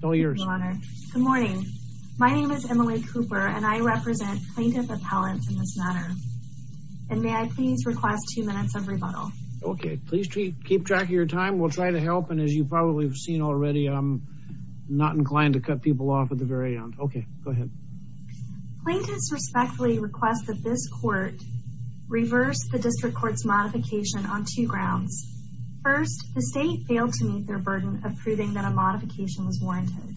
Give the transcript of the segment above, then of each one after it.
Good morning. My name is Emily Cooper and I represent plaintiff appellants in this matter and may I please request two minutes of rebuttal. Okay, please keep track of your time. We'll try to help and as you probably have seen already I'm not inclined to cut people off at the very end. Okay, go ahead. Plaintiffs respectfully request that this court reverse the District Court's modification on two grounds. First, the state failed to meet their burden of proving that a modification was warranted.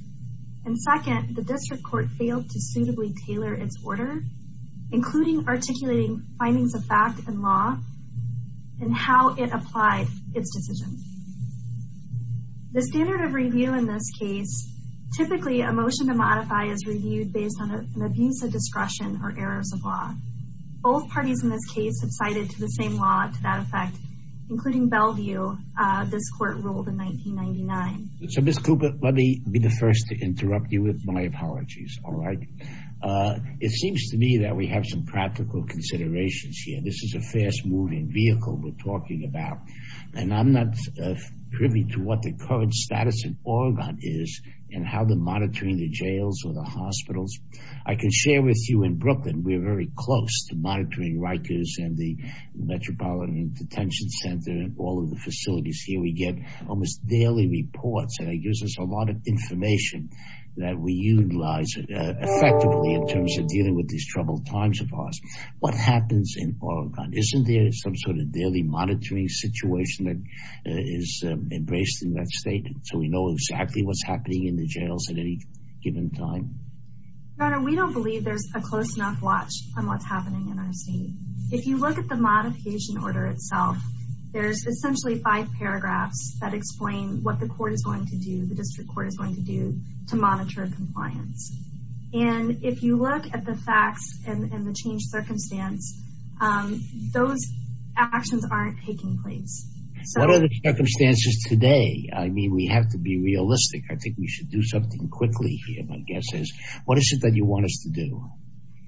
And second, the District Court failed to suitably tailor its order, including articulating findings of fact and law and how it applied its decision. The standard of review in this case, typically a motion to modify is reviewed based on an abuse of discretion or errors of law. Both parties in this case have cited to the same law to that effect, including Bellevue, this court ruled in 1999. So Ms. Cooper, let me be the first to interrupt you with my apologies, all right. It seems to me that we have some practical considerations here. This is a fast-moving vehicle we're talking about. And I'm not privy to what the current status in Oregon is and how they're monitoring the jails or the hospitals. I can share with you in Brooklyn, we're very close to monitoring Rikers and the Metropolitan Detention Center and all of the facilities here. We get almost daily reports and it gives us a lot of information that we utilize effectively in terms of dealing with these troubled times of ours. What happens in Oregon? Isn't there some sort of daily monitoring situation that is embraced in that state so we know exactly what's happening in the jails at any given time? Your Honor, we don't believe there's a close enough watch on what's happening in our state. If you look at the modification order itself, there's essentially five paragraphs that explain what the court is going to do, the District Court is going to do to monitor compliance. And if you look at the facts and the changed circumstance, those actions aren't taking place. What are the circumstances today? I mean, we have to be realistic. I think we should do something quickly here, my guess is. What is it that you want us to do?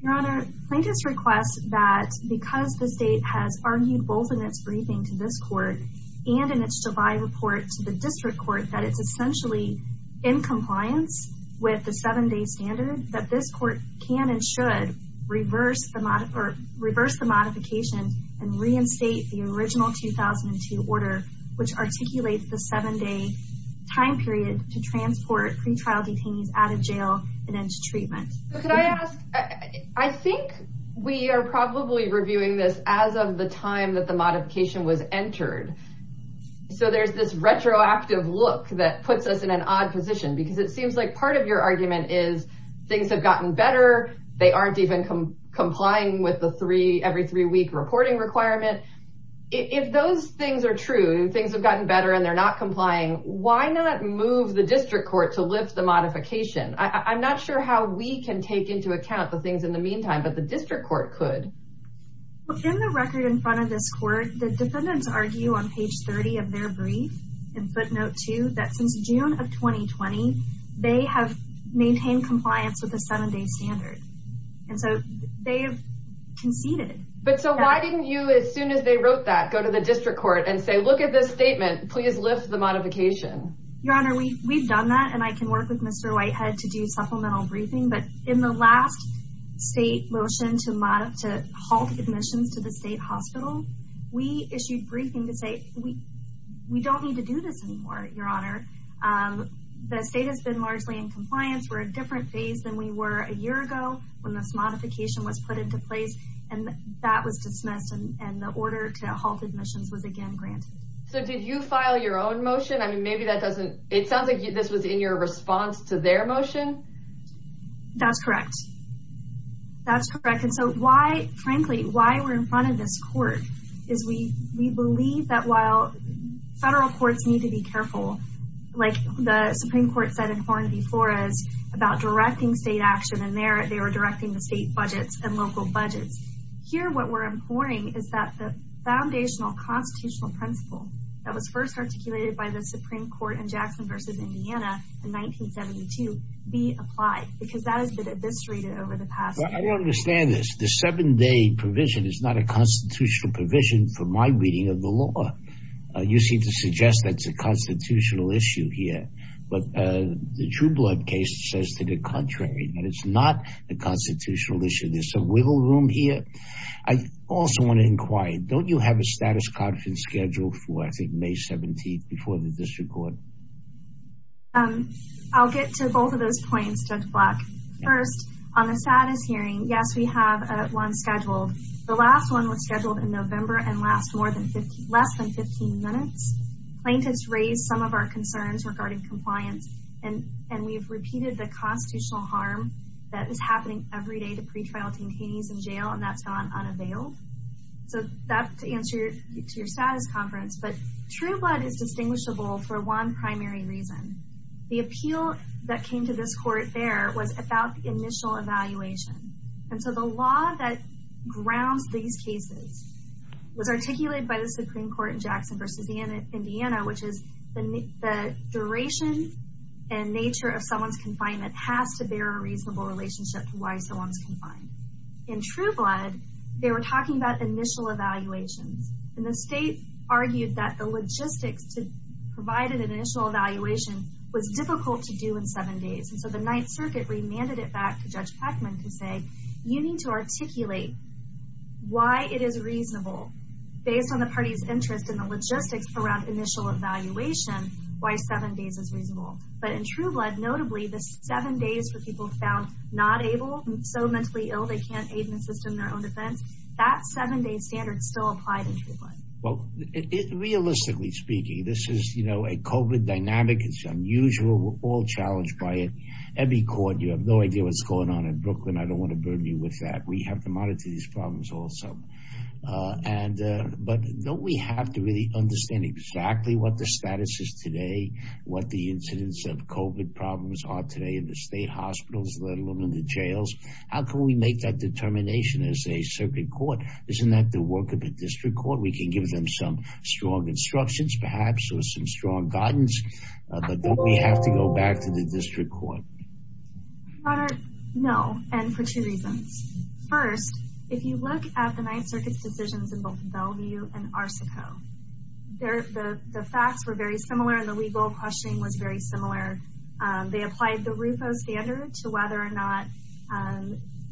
Your Honor, plaintiffs request that because the state has argued both in its briefing to this court and in its July report to the District Court that it's essentially in compliance with the seven-day standard, that this court can and should reverse the modification and reinstate the original 2002 order, which articulates the seven-day time period to transport pretrial detainees out of jail and into treatment. Could I ask, I think we are probably reviewing this as of the time that the modification was entered. So there's this retroactive look that puts us in an odd position because it seems like part of your argument is things have gotten better. They aren't even complying with the three every three week reporting requirement. If those things are true and things have gotten better and they're not complying, why not move the District Court to lift the modification? I'm not sure how we can take into account the things in the meantime, but the District Court could. In the record in front of this court, the defendants argue on page 30 of their brief, in footnote two, that since June of 2020, they have maintained compliance with the seven-day standard. And so they have conceded. But so why didn't you, as soon as they wrote that, go to the District Court and say, look at this statement, please lift the modification? Your Honor, we've done that and I can work with Mr. Whitehead to do supplemental briefing. But in the last state motion to halt admissions to the state hospital, we issued briefing to say we don't need to do this anymore, Your Honor. The state has been largely in compliance. We're a different phase than we were a year ago when this modification was put into place. And that was dismissed. And the order to halt admissions was again granted. So did you file your own motion? I mean, maybe that doesn't, it sounds like this was in your response to their motion. That's correct. That's correct. And so why, frankly, why we're in front of this court is we believe that while federal courts need to be careful, like the Supreme Court said in Horn v. Flores about directing state action, and there they were directing the state budgets and local budgets. Here, what we're imploring is that the foundational constitutional principle that was first articulated by the Supreme Court in Jackson v. Indiana in 1972 be applied because that has been eviscerated over the past. I don't understand this. The seven-day provision is not a constitutional provision for my reading of the law. You seem to suggest that's a constitutional issue here. But the True Blood case says to the contrary, that it's not a constitutional issue. There's some wiggle room here. I also want to inquire, don't you have a status conference scheduled for, I think, May 17th before the district court? I'll get to both of those points, Judge Black. First, on the status hearing, yes, we have one scheduled. The last one was scheduled in November and lasts less than 15 minutes. Plaintiffs raised some of our concerns regarding compliance, and we've repeated the constitutional harm that is happening every day to pretrial detainees in jail, and that's gone unavailable. So that's to answer to your status conference. But True Blood is distinguishable for one primary reason. The appeal that came to this court there was about the initial evaluation. And so the law that grounds these cases was articulated by the Supreme Court in Jackson v. Indiana, which is the duration and nature of someone's confinement has to bear a reasonable relationship to why someone's confined. In True Blood, they were talking about initial evaluations, and the state argued that the logistics to provide an initial evaluation was difficult to do in seven days. And so the Ninth Circuit remanded it back to Judge Peckman to say, you need to articulate why it is reasonable, based on the party's interest in the logistics around initial evaluation, why seven days is reasonable. But in True Blood, notably, the seven days for people found not able, so mentally ill they can't aid and assist in their own defense, that seven-day standard still applied in True Blood. Well, realistically speaking, this is a COVID dynamic. It's unusual. We're all challenged by it. Every court, you have no idea what's going on in Brooklyn. I don't want to burden you with that. We have to monitor these problems also. But don't we have to really understand exactly what the status is today, what the incidence of COVID problems are today in the state hospitals, let alone in the jails? How can we make that determination as a circuit court? Isn't that the work of a district court? We can give them some strong instructions, perhaps, or some strong guidance, but don't we have to go back to the district court? Robert, no, and for two reasons. First, if you look at the Ninth Circuit's decisions in both Bellevue and Arsico, the facts were very similar and the legal questioning was very similar. They applied the RUFO standard to whether or not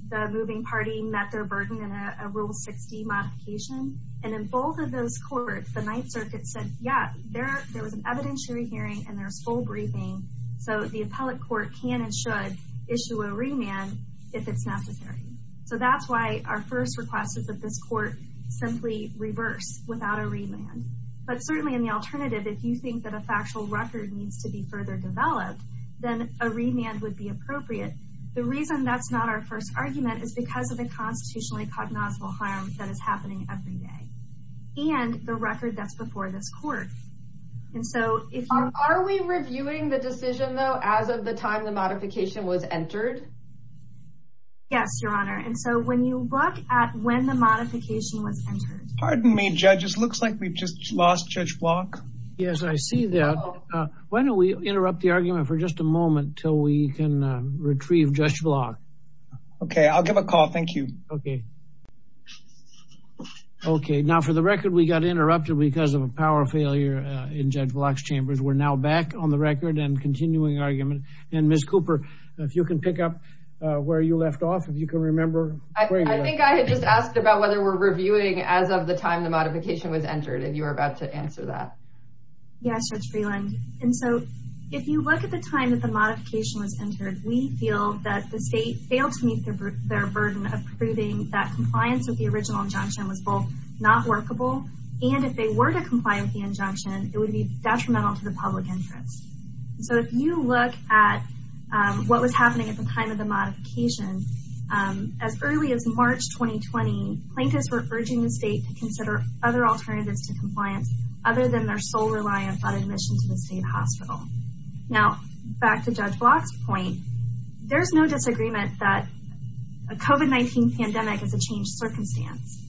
the moving party met their burden in a Rule 60 modification. And in both of those courts, the Ninth Circuit said, yeah, there was an evidentiary hearing and there's full briefing, so the appellate court can and should issue a remand if it's necessary. So that's why our first request is that this court simply reverse without a remand. But certainly in the alternative, if you think that a factual record needs to be further developed, then a remand would be appropriate. The reason that's not our first argument is because of the constitutionally cognizable harm that is happening every day and the record that's before this court. And so if are we reviewing the decision, though, as of the time the modification was entered? Yes, Your Honor. And so when you look at when the modification was entered. Pardon me, judges. Looks like we've just lost Judge Block. Yes, I see that. Why don't we interrupt the argument for just a moment till we can retrieve Judge Block. OK, I'll give a call. Thank you. OK. OK, now, for the record, we got interrupted because of a power failure in Judge Block's chambers. We're now back on the record and continuing argument. And Ms. Cooper, if you can pick up where you left off, if you can remember. I think I had just asked about whether we're reviewing as of the time the modification was entered, and you were about to answer that. Yes, Judge Freeland. And so if you look at the time that the modification was entered, we feel that the state failed to meet their burden of proving that compliance with the original injunction was both not workable. And if they were to comply with the injunction, it would be detrimental to the public interest. So if you look at what was happening at the time of the modification, as early as March 2020, plaintiffs were urging the state to consider other alternatives to compliance other than their sole reliance on admission to the state hospital. Now, back to Judge Block's point, there's no disagreement that a COVID-19 pandemic is a changed circumstance.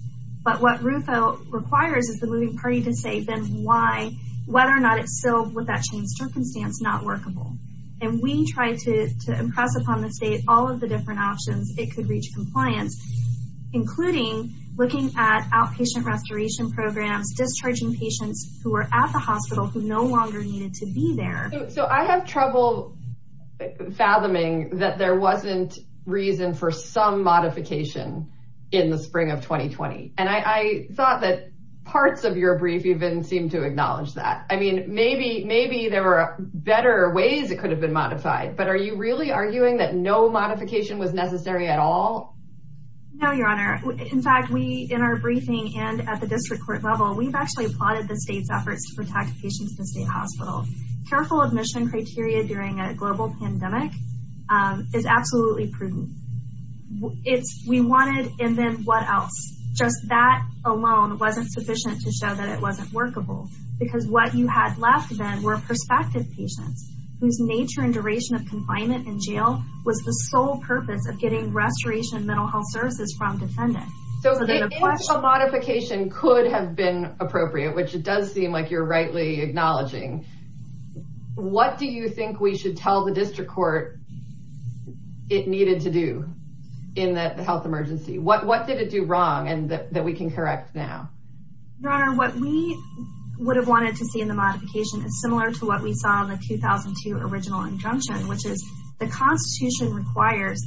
But what RUFO requires is the moving party to say then why, whether or not it's still, with that changed circumstance, not workable. And we tried to impress upon the state all of the different options it could reach compliance, including looking at outpatient restoration programs, discharging patients who are at the hospital who no longer needed to be there. So I have trouble fathoming that there wasn't reason for some modification in the spring of 2020. And I thought that parts of your brief even seemed to acknowledge that. I mean, maybe there were better ways it could have been modified. But are you really arguing that no modification was necessary at all? No, Your Honor. In fact, we, in our briefing and at the district court level, we've actually applauded the state's efforts to protect patients in the state hospital. Careful admission criteria during a global pandemic is absolutely prudent. We wanted, and then what else? Just that alone wasn't sufficient to show that it wasn't workable. Because what you had left then were prospective patients whose nature and duration of confinement in jail was the sole purpose of getting restoration mental health services from defendants. So a modification could have been appropriate, which it does seem like you're rightly acknowledging. What do you think we should tell the district court it needed to do in the health emergency? What what did it do wrong and that we can correct now? Your Honor, what we would have wanted to see in the modification is similar to what we saw in the 2002 original injunction, which is the Constitution requires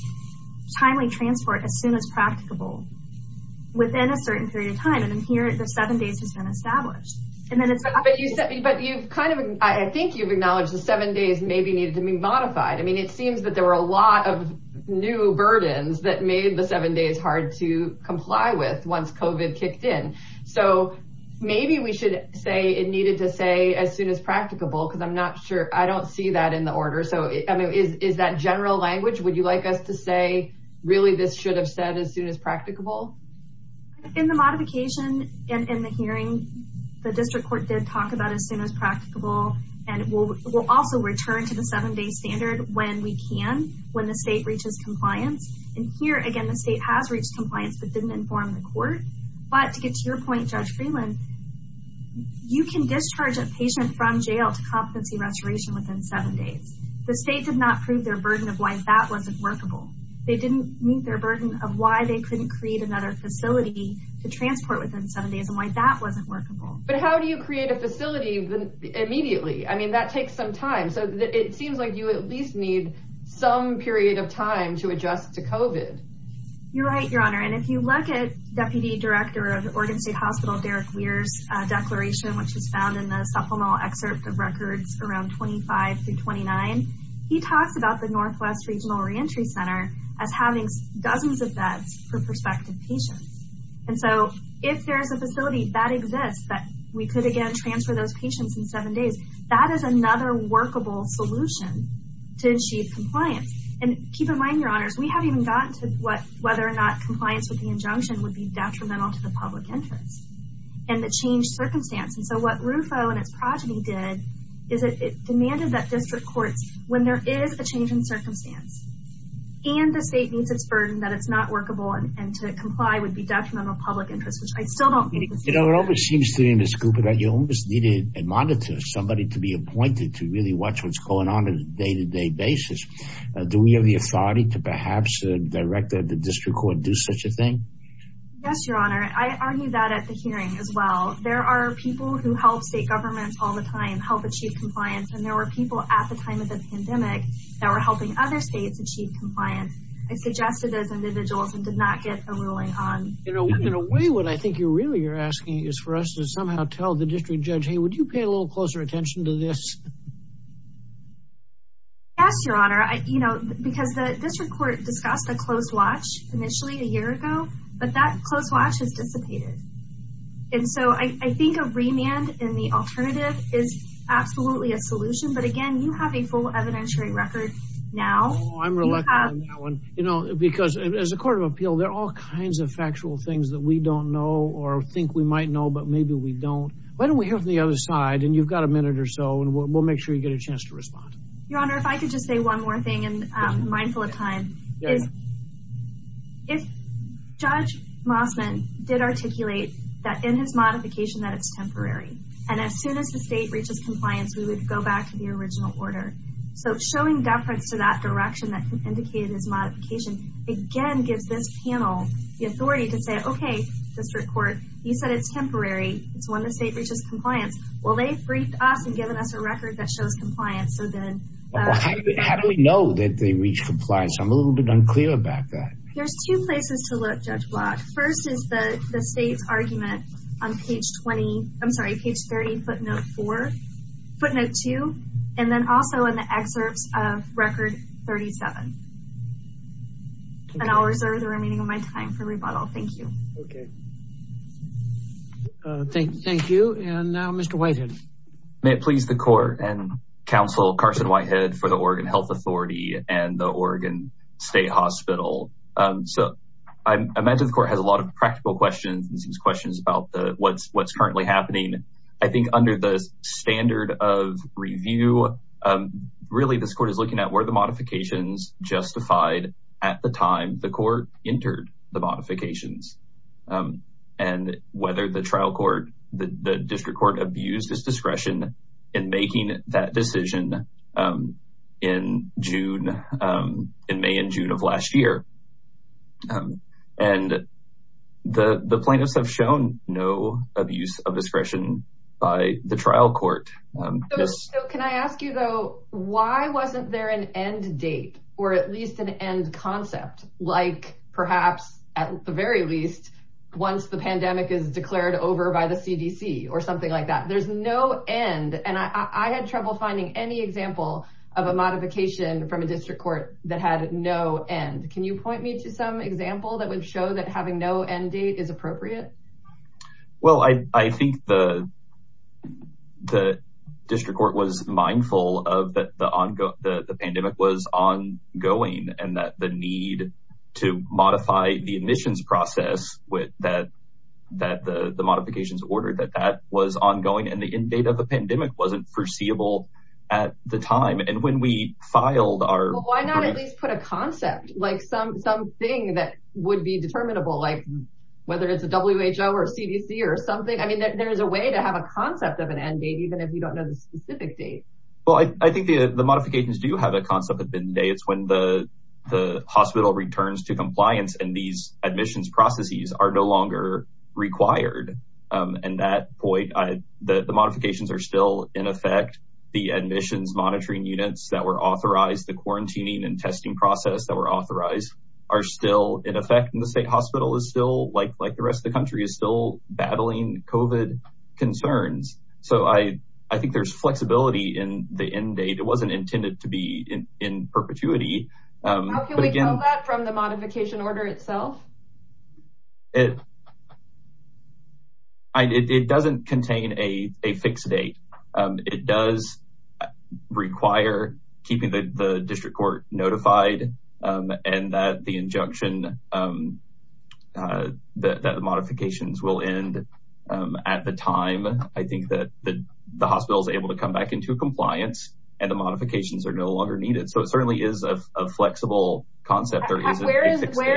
timely transport as soon as practicable within a certain period of time. And here the seven days has been established. But you've kind of I think you've acknowledged the seven days maybe needed to be modified. I mean, it seems that there were a lot of new burdens that made the seven days hard to comply with once COVID kicked in. So maybe we should say it needed to say as soon as practicable because I'm not sure I don't see that in the order. So is that general language? Would you like us to say really this should have said as soon as practicable? In the modification and in the hearing, the district court did talk about as soon as practicable. And we'll also return to the seven day standard when we can, when the state reaches compliance. And here again, the state has reached compliance, but didn't inform the court. But to get to your point, Judge Freeland, you can discharge a patient from jail to competency restoration within seven days. The state did not prove their burden of why that wasn't workable. They didn't meet their burden of why they couldn't create another facility to transport within seven days and why that wasn't workable. But how do you create a facility immediately? I mean, that takes some time. So it seems like you at least need some period of time to adjust to COVID. You're right, Your Honor. And if you look at Deputy Director of Oregon State Hospital, Derek Weir's declaration, which is found in the supplemental excerpt of records around 25 through 29, he talks about the Northwest Regional Reentry Center as having dozens of beds for prospective patients. And so if there is a facility that exists that we could, again, transfer those patients in seven days, that is another workable solution to achieve compliance. And keep in mind, Your Honors, we haven't even gotten to whether or not compliance with the injunction would be detrimental to the public interest and the changed circumstance. And so what RUFO and its progeny did is it demanded that district courts, when there is a change in circumstance and the state meets its burden that it's not workable and to comply would be detrimental to public interest, which I still don't believe. You know, it always seems to me, Ms. Cooper, that you always needed a monitor, somebody to be appointed to really watch what's going on on a day-to-day basis. Do we have the authority to perhaps direct the district court to do such a thing? Yes, Your Honor. I argue that at the hearing as well. There are people who help state governments all the time, help achieve compliance, and there were people at the time of the pandemic that were helping other states achieve compliance. I suggested those individuals and did not get a ruling on. You know, in a way, what I think you really are asking is for us to somehow tell the district judge, hey, would you pay a little closer attention to this? Yes, Your Honor. You know, because the district court discussed a closed watch initially a year ago, but that closed watch has dissipated. And so I think a remand in the alternative is absolutely a solution, but again, you have a full evidentiary record now. Oh, I'm reluctant on that one, you know, because as a court of appeal, there are all kinds of factual things that we don't know or think we might know, but maybe we don't. Why don't we hear from the other side, and you've got a minute or so, and we'll make sure you get a chance to respond. Your Honor, if I could just say one more thing, and mindful of time, is if Judge Mossman did articulate that in his modification that it's temporary, and as soon as the state reaches compliance, we would go back to the original order. So showing deference to that direction that indicated his modification again gives this panel the authority to say, okay, district court, you said it's temporary. It's when the state reaches compliance. Well, they've briefed us and given us a record that shows compliance. How do we know that they reach compliance? I'm a little bit unclear about that. There's two places to look, Judge Block. First is the state's argument on page 30, footnote 4, footnote 2, and then also in the excerpts of record 37. And I'll reserve the remaining of my time for rebuttal. Thank you. Okay. Thank you. And now Mr. Whitehead. May it please the Court and Counsel Carson Whitehead for the Oregon Health Authority and the Oregon State Hospital. So I imagine the Court has a lot of practical questions, and some questions about what's currently happening. I think under the standard of review, really this Court is looking at where the modifications justified at the time the Court entered the modifications and whether the trial court, the district court, abused its discretion in making that decision in June, in May and June of last year. And the plaintiffs have shown no abuse of discretion by the trial court. So can I ask you, though, why wasn't there an end date or at least an end concept, like perhaps at the very least once the pandemic is declared over by the CDC or something like that? There's no end. And I had trouble finding any example of a modification from a district court that had no end. Can you point me to some example that would show that having no end date is appropriate? Well, I think the district court was mindful of that the pandemic was ongoing and that the need to modify the admissions process that the modifications ordered, that that was ongoing and the end date of the pandemic wasn't foreseeable at the time. And when we filed our… Well, why not at least put a concept, like something that would be determinable, like whether it's a WHO or CDC or something? I mean, there is a way to have a concept of an end date, even if you don't know the specific date. Well, I think the modifications do have a concept of an end date. It's when the hospital returns to compliance and these admissions processes are no longer required. And that point, the modifications are still in effect. The admissions monitoring units that were authorized, the quarantining and testing process that were authorized are still in effect. And the state hospital is still, like the rest of the country, is still battling COVID concerns. So I think there's flexibility in the end date. It wasn't intended to be in perpetuity. How can we tell that from the modification order itself? It doesn't contain a fixed date. It does require keeping the district court notified and that the injunction, that the modifications will end at the time I think that the hospital is able to come back into compliance and the modifications are no longer needed. So it certainly is a flexible concept. Where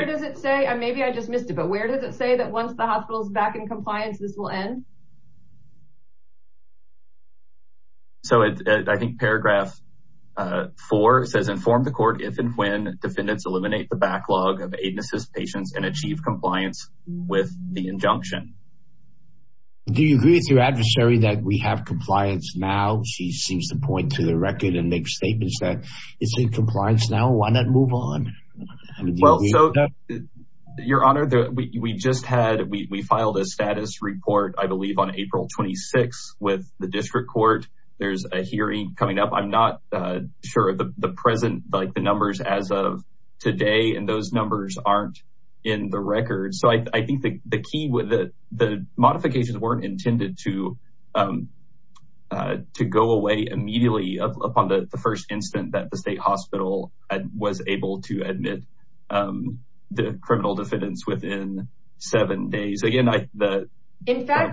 does it say, maybe I just missed it, but where does it say that once the hospital is back in compliance, this will end? So I think paragraph four says, inform the court if and when defendants eliminate the backlog of aid and assist patients and achieve compliance with the injunction. Do you agree with your adversary that we have compliance now? She seems to point to the record and make statements that it's in compliance now. Why not move on? Well, so your honor, we just had, we filed a status report, I believe on April 26 with the district court. There's a hearing coming up. I'm not sure the present, like the numbers as of today, and those numbers aren't in the record. So I think the key with the modifications weren't intended to go away immediately upon the first incident that the state hospital was able to admit the criminal defendants within seven days. Again, the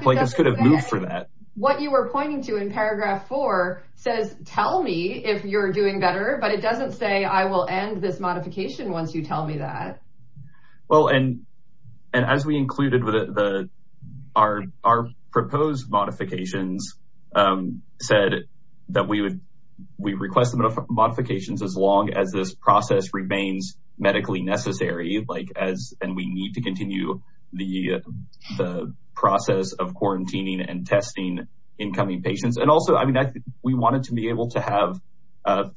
plaintiffs could have moved for that. What you were pointing to in paragraph four says, tell me if you're doing better, but it doesn't say I will end this modification once you tell me that. Well, and as we included with our proposed modifications said that we would, we request modifications as long as this process remains medically necessary, like as we need to continue the process of quarantining and testing incoming patients. And also, I mean, we wanted to be able to have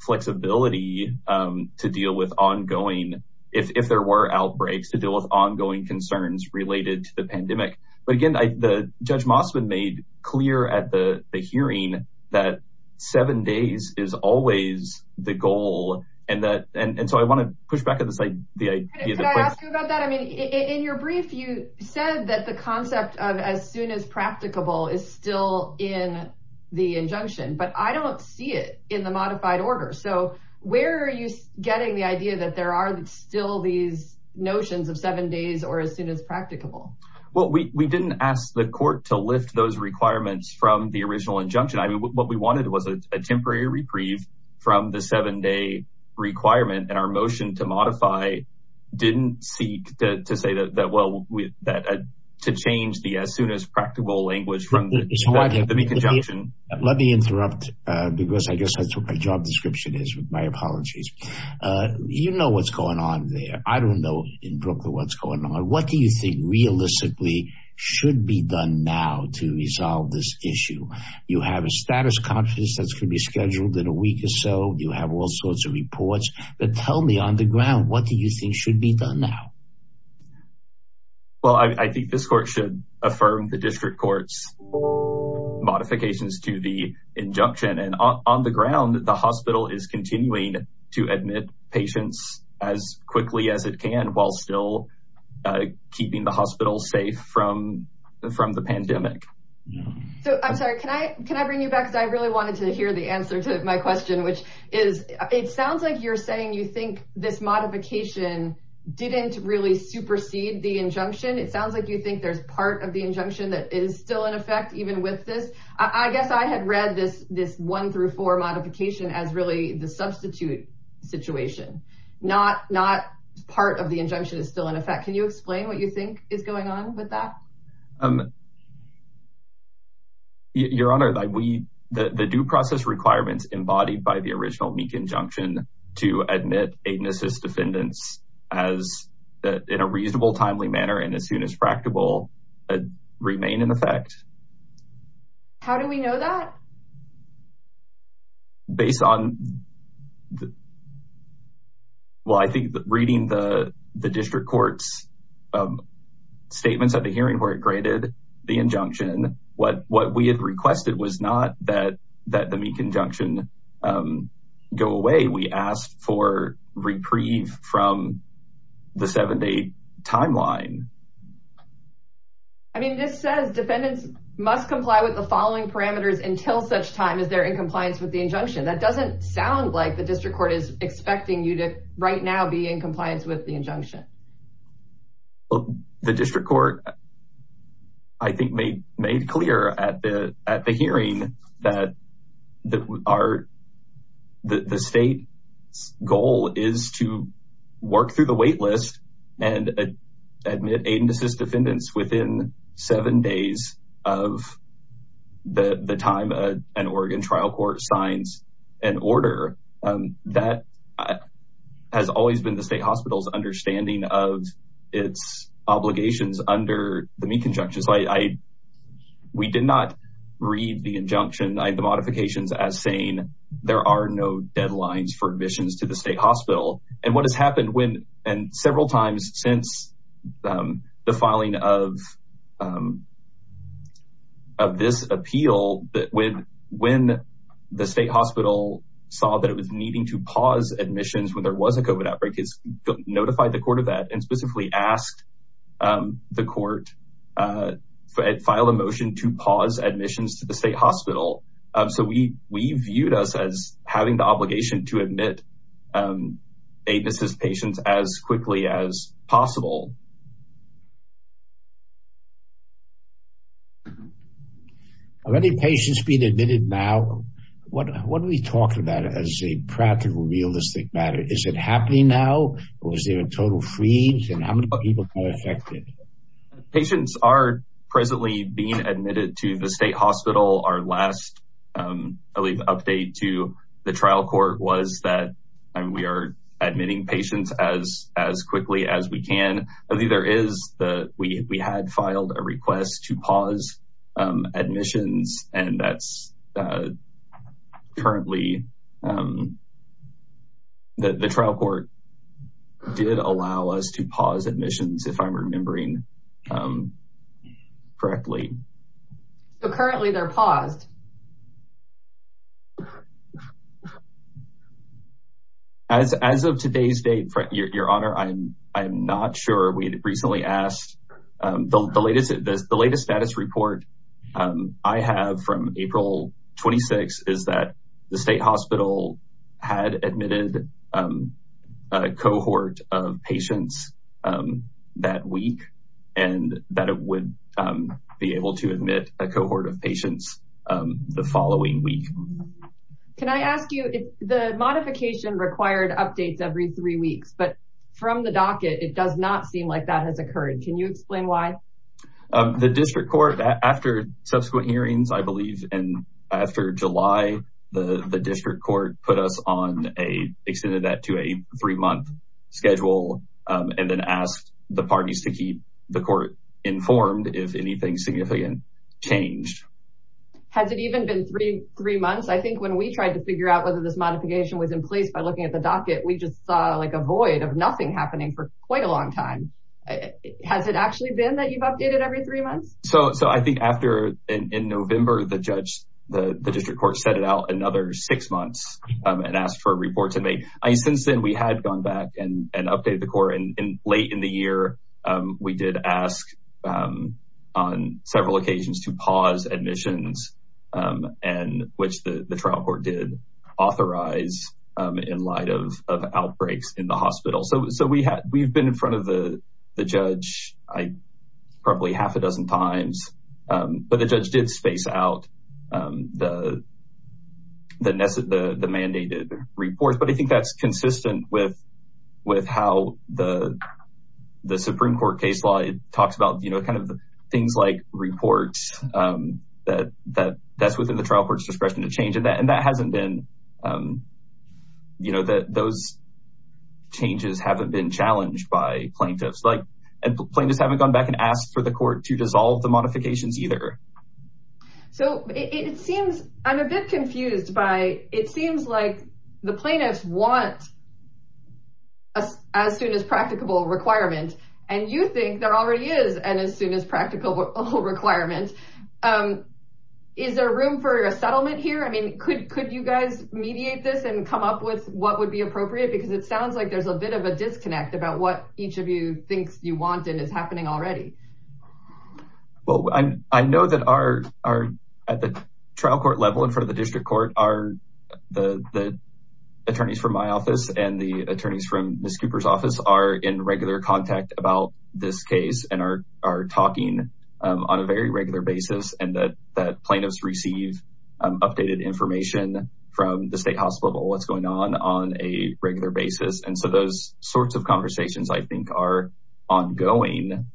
flexibility to deal with ongoing, if there were outbreaks to deal with ongoing concerns related to the pandemic. But again, the judge Mossman made clear at the hearing that seven days is always the goal. And that, and so I want to push back at the site. I mean, in your brief, you said that the concept of as soon as practicable is still in the injunction, but I don't see it in the modified order. So where are you getting the idea that there are still these notions of seven days or as soon as practicable? Well, we didn't ask the court to lift those requirements from the original injunction. I mean, what we wanted was a temporary reprieve from the seven day requirement and our motion to modify didn't seek to say that, well, to change the as soon as practical language from the conjunction. Let me interrupt because I guess that's what my job description is with my apologies. You know what's going on there. I don't know in Brooklyn what's going on. What do you think realistically should be done now to resolve this issue? You have a status conference that's going to be scheduled in a week or so. You have all sorts of reports. But tell me on the ground, what do you think should be done now? Well, I think this court should affirm the district court's modifications to the injunction. And on the ground, the hospital is continuing to admit patients as quickly as it can, while still keeping the hospital safe from the pandemic. So I'm sorry, can I bring you back? In fact, I really wanted to hear the answer to my question, which is it sounds like you're saying you think this modification didn't really supersede the injunction. It sounds like you think there's part of the injunction that is still in effect even with this. I guess I had read this one through four modification as really the substitute situation, not part of the injunction is still in effect. Can you explain what you think is going on with that? Your Honor, the due process requirements embodied by the original Meek injunction to admit agonist defendants in a reasonable, timely manner and as soon as practicable remain in effect. How do we know that? Based on, well, I think reading the district court's statements at the hearing where it graded the injunction, what we had requested was not that the Meek injunction go away. We asked for reprieve from the seven day timeline. I mean, this says defendants must comply with the following parameters until such time as they're in compliance with the injunction. That doesn't sound like the district court is expecting you to right now be in compliance with the injunction. The district court, I think, made clear at the hearing that the state's goal is to work through the wait list and admit agonist defendants within seven days of the time an Oregon trial court signs an order. That has always been the state hospital's understanding of its obligations under the Meek injunction. We did not read the injunction, the modifications as saying there are no deadlines for admissions to the state hospital. And what has happened when, and several times since the filing of this appeal, when the state hospital saw that it was needing to pause admissions when there was a COVID outbreak, it notified the court of that and specifically asked the court, filed a motion to pause admissions to the state hospital. So we viewed us as having the obligation to admit agonist patients as quickly as possible. Are any patients being admitted now? What are we talking about as a practical, realistic matter? Is it happening now or is there a total freeze and how many people are affected? Patients are presently being admitted to the state hospital. Our last update to the trial court was that we are admitting patients as quickly as we can. We had filed a request to pause admissions and that's currently, the trial court did allow us to pause admissions if I'm remembering correctly. So currently they're paused. As of today's date, your honor, I'm not sure. We had recently asked the latest, the latest status report I have from April 26 is that the state hospital had admitted a cohort of patients that week and that it would be able to admit a cohort of patients the following week. Can I ask you, the modification required updates every three weeks, but from the docket, it does not seem like that has occurred. Can you explain why? The district court, after subsequent hearings, I believe, and after July, the district court put us on a, extended that to a three month schedule and then asked the parties to keep the court informed if anything significant changed. Has it even been three months? I think when we tried to figure out whether this modification was in place by looking at the docket, we just saw like a void of nothing happening for quite a long time. Has it actually been that you've updated every three months? So, so I think after in November, the judge, the district court set it out another six months and asked for a report to make. Since then, we had gone back and updated the court. And late in the year, we did ask on several occasions to pause admissions and which the trial court did authorize in light of outbreaks in the hospital. So, so we have, we've been in front of the judge probably half a dozen times, but the judge did space out the, the mandated reports. But I think that's consistent with, with how the, the Supreme Court case law talks about, you know, kind of things like reports that, that that's within the trial court's discretion to change. And that, and that hasn't been, you know, that those changes haven't been challenged by plaintiffs. Like, and plaintiffs haven't gone back and asked for the court to dissolve the modifications either. So it seems, I'm a bit confused by, it seems like the plaintiffs want as soon as practicable requirement. And you think there already is an as soon as practical requirement. Is there room for a settlement here? I mean, could, could you guys mediate this and come up with what would be appropriate? Because it sounds like there's a bit of a disconnect about what each of you thinks you want and is happening already. Well, I, I know that our, our, at the trial court level in front of the district court are the, the attorneys from my office and the attorneys from Ms. Cooper's office are in regular contact about this case and are, are talking on a very regular basis. And that, that plaintiffs receive updated information from the state hospital, what's going on, on a regular basis. And so those sorts of conversations I think are ongoing.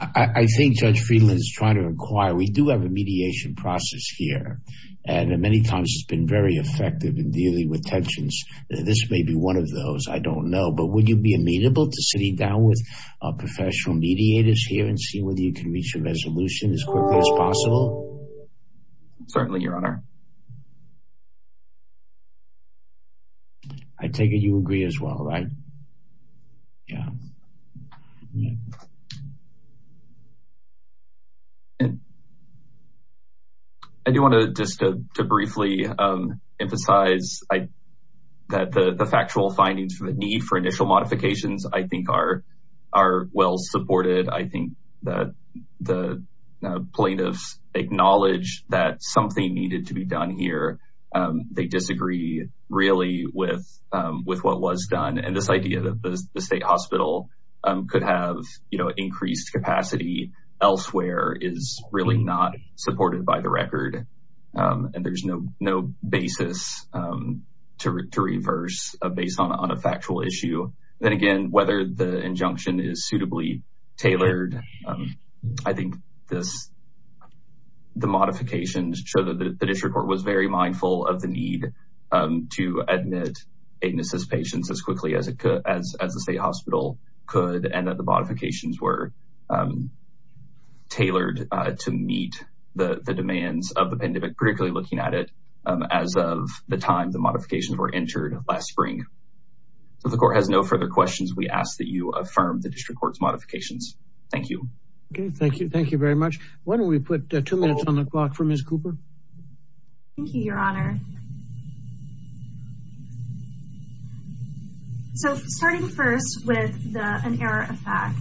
I think Judge Friedman is trying to inquire. We do have a mediation process here. And many times it's been very effective in dealing with tensions. This may be one of those, I don't know. But would you be amenable to sitting down with professional mediators here and see whether you can reach a resolution as quickly as possible? Certainly, Your Honor. I take it you agree as well, right? Yeah. I do want to just to briefly emphasize that the factual findings for the need for initial modifications, I think are, are well supported. I think that the plaintiffs acknowledge that something needed to be done here. They disagree really with, with what was done. And this idea that the state hospital could have, you know, increased capacity elsewhere is really not supported by the record. And there's no, no basis to reverse based on a factual issue. So then again, whether the injunction is suitably tailored, I think this, the modifications show that the district court was very mindful of the need to admit Adenis's patients as quickly as it could, as the state hospital could. And that the modifications were tailored to meet the demands of the pandemic, particularly looking at it as of the time the modifications were entered last spring. So the court has no further questions. We ask that you affirm the district court's modifications. Thank you. Okay, thank you. Thank you very much. Why don't we put two minutes on the clock for Ms. Cooper? Thank you, Your Honor. So starting first with the, an error of fact,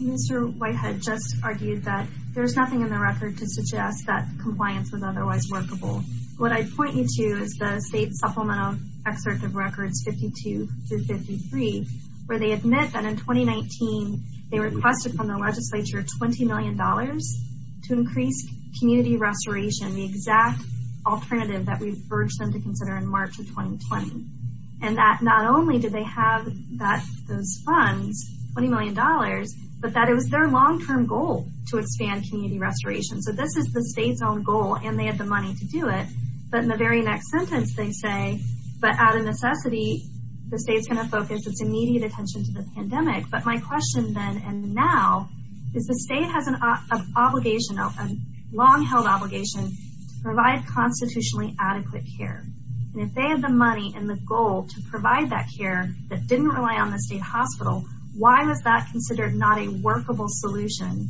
Mr. Whitehead just argued that there's nothing in the record to suggest that compliance was otherwise workable. What I'd point you to is the state supplemental excerpt of records 52 through 53, where they admit that in 2019, they requested from the legislature $20 million to increase community restoration, the exact alternative that we've urged them to consider in March of 2020. And that not only did they have that, those funds, $20 million, but that it was their long-term goal to expand community restoration. So this is the state's own goal, and they had the money to do it. But in the very next sentence, they say, but out of necessity, the state's going to focus its immediate attention to the pandemic. But my question then and now is the state has an obligation, a long-held obligation to provide constitutionally adequate care. And if they had the money and the goal to provide that care that didn't rely on the state hospital, why was that considered not a workable solution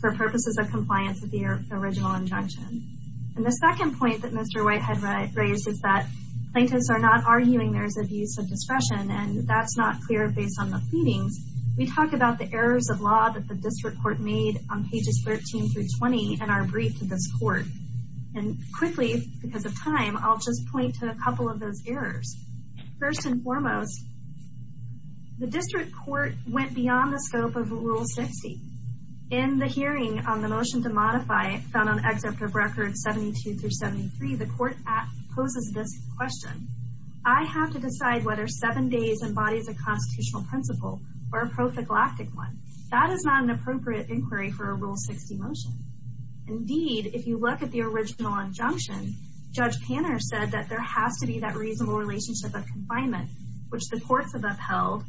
for purposes of compliance with the original injunction? And the second point that Mr. Whitehead raised is that plaintiffs are not arguing there's abuse of discretion, and that's not clear based on the pleadings. We talked about the errors of law that the district court made on pages 13 through 20 in our brief to this court. And quickly, because of time, I'll just point to a couple of those errors. First and foremost, the district court went beyond the scope of Rule 60. In the hearing on the motion to modify found on Exempt of Records 72 through 73, the court poses this question. I have to decide whether seven days embodies a constitutional principle or a prophylactic one. That is not an appropriate inquiry for a Rule 60 motion. Indeed, if you look at the original injunction, Judge Panner said that there has to be that reasonable relationship of confinement, which the courts have upheld,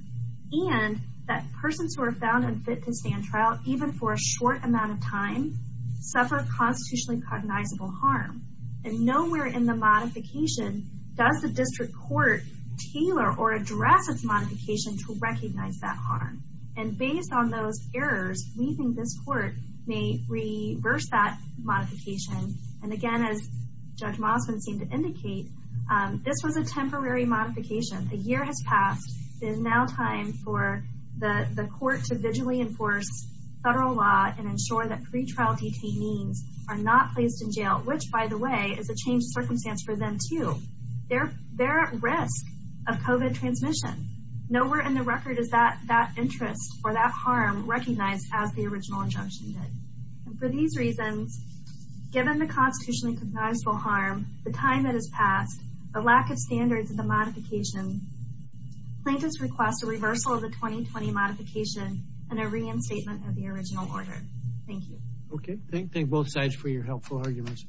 and that persons who are found unfit to stand trial, even for a short amount of time, suffer constitutionally cognizable harm. And nowhere in the modification does the district court tailor or address its modification to recognize that harm. And based on those errors, we think this court may reverse that modification. And again, as Judge Mossman seemed to indicate, this was a temporary modification. A year has passed. It is now time for the court to visually enforce federal law and ensure that pretrial detainees are not placed in jail, which, by the way, is a changed circumstance for them, too. They're at risk of COVID transmission. Nowhere in the record is that interest or that harm recognized as the original injunction did. And for these reasons, given the constitutionally cognizable harm, the time that has passed, a lack of standards in the modification, plaintiffs request a reversal of the 2020 modification and a reinstatement of the original order. Thank you. Okay, thank both sides for your helpful arguments.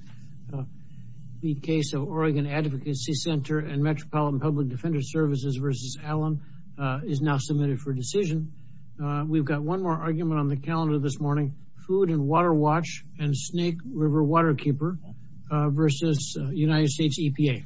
The case of Oregon Advocacy Center and Metropolitan Public Defender Services versus Allen is now submitted for decision. We've got one more argument on the calendar this morning. Food and Water Watch and Snake River Waterkeeper versus United States EPA.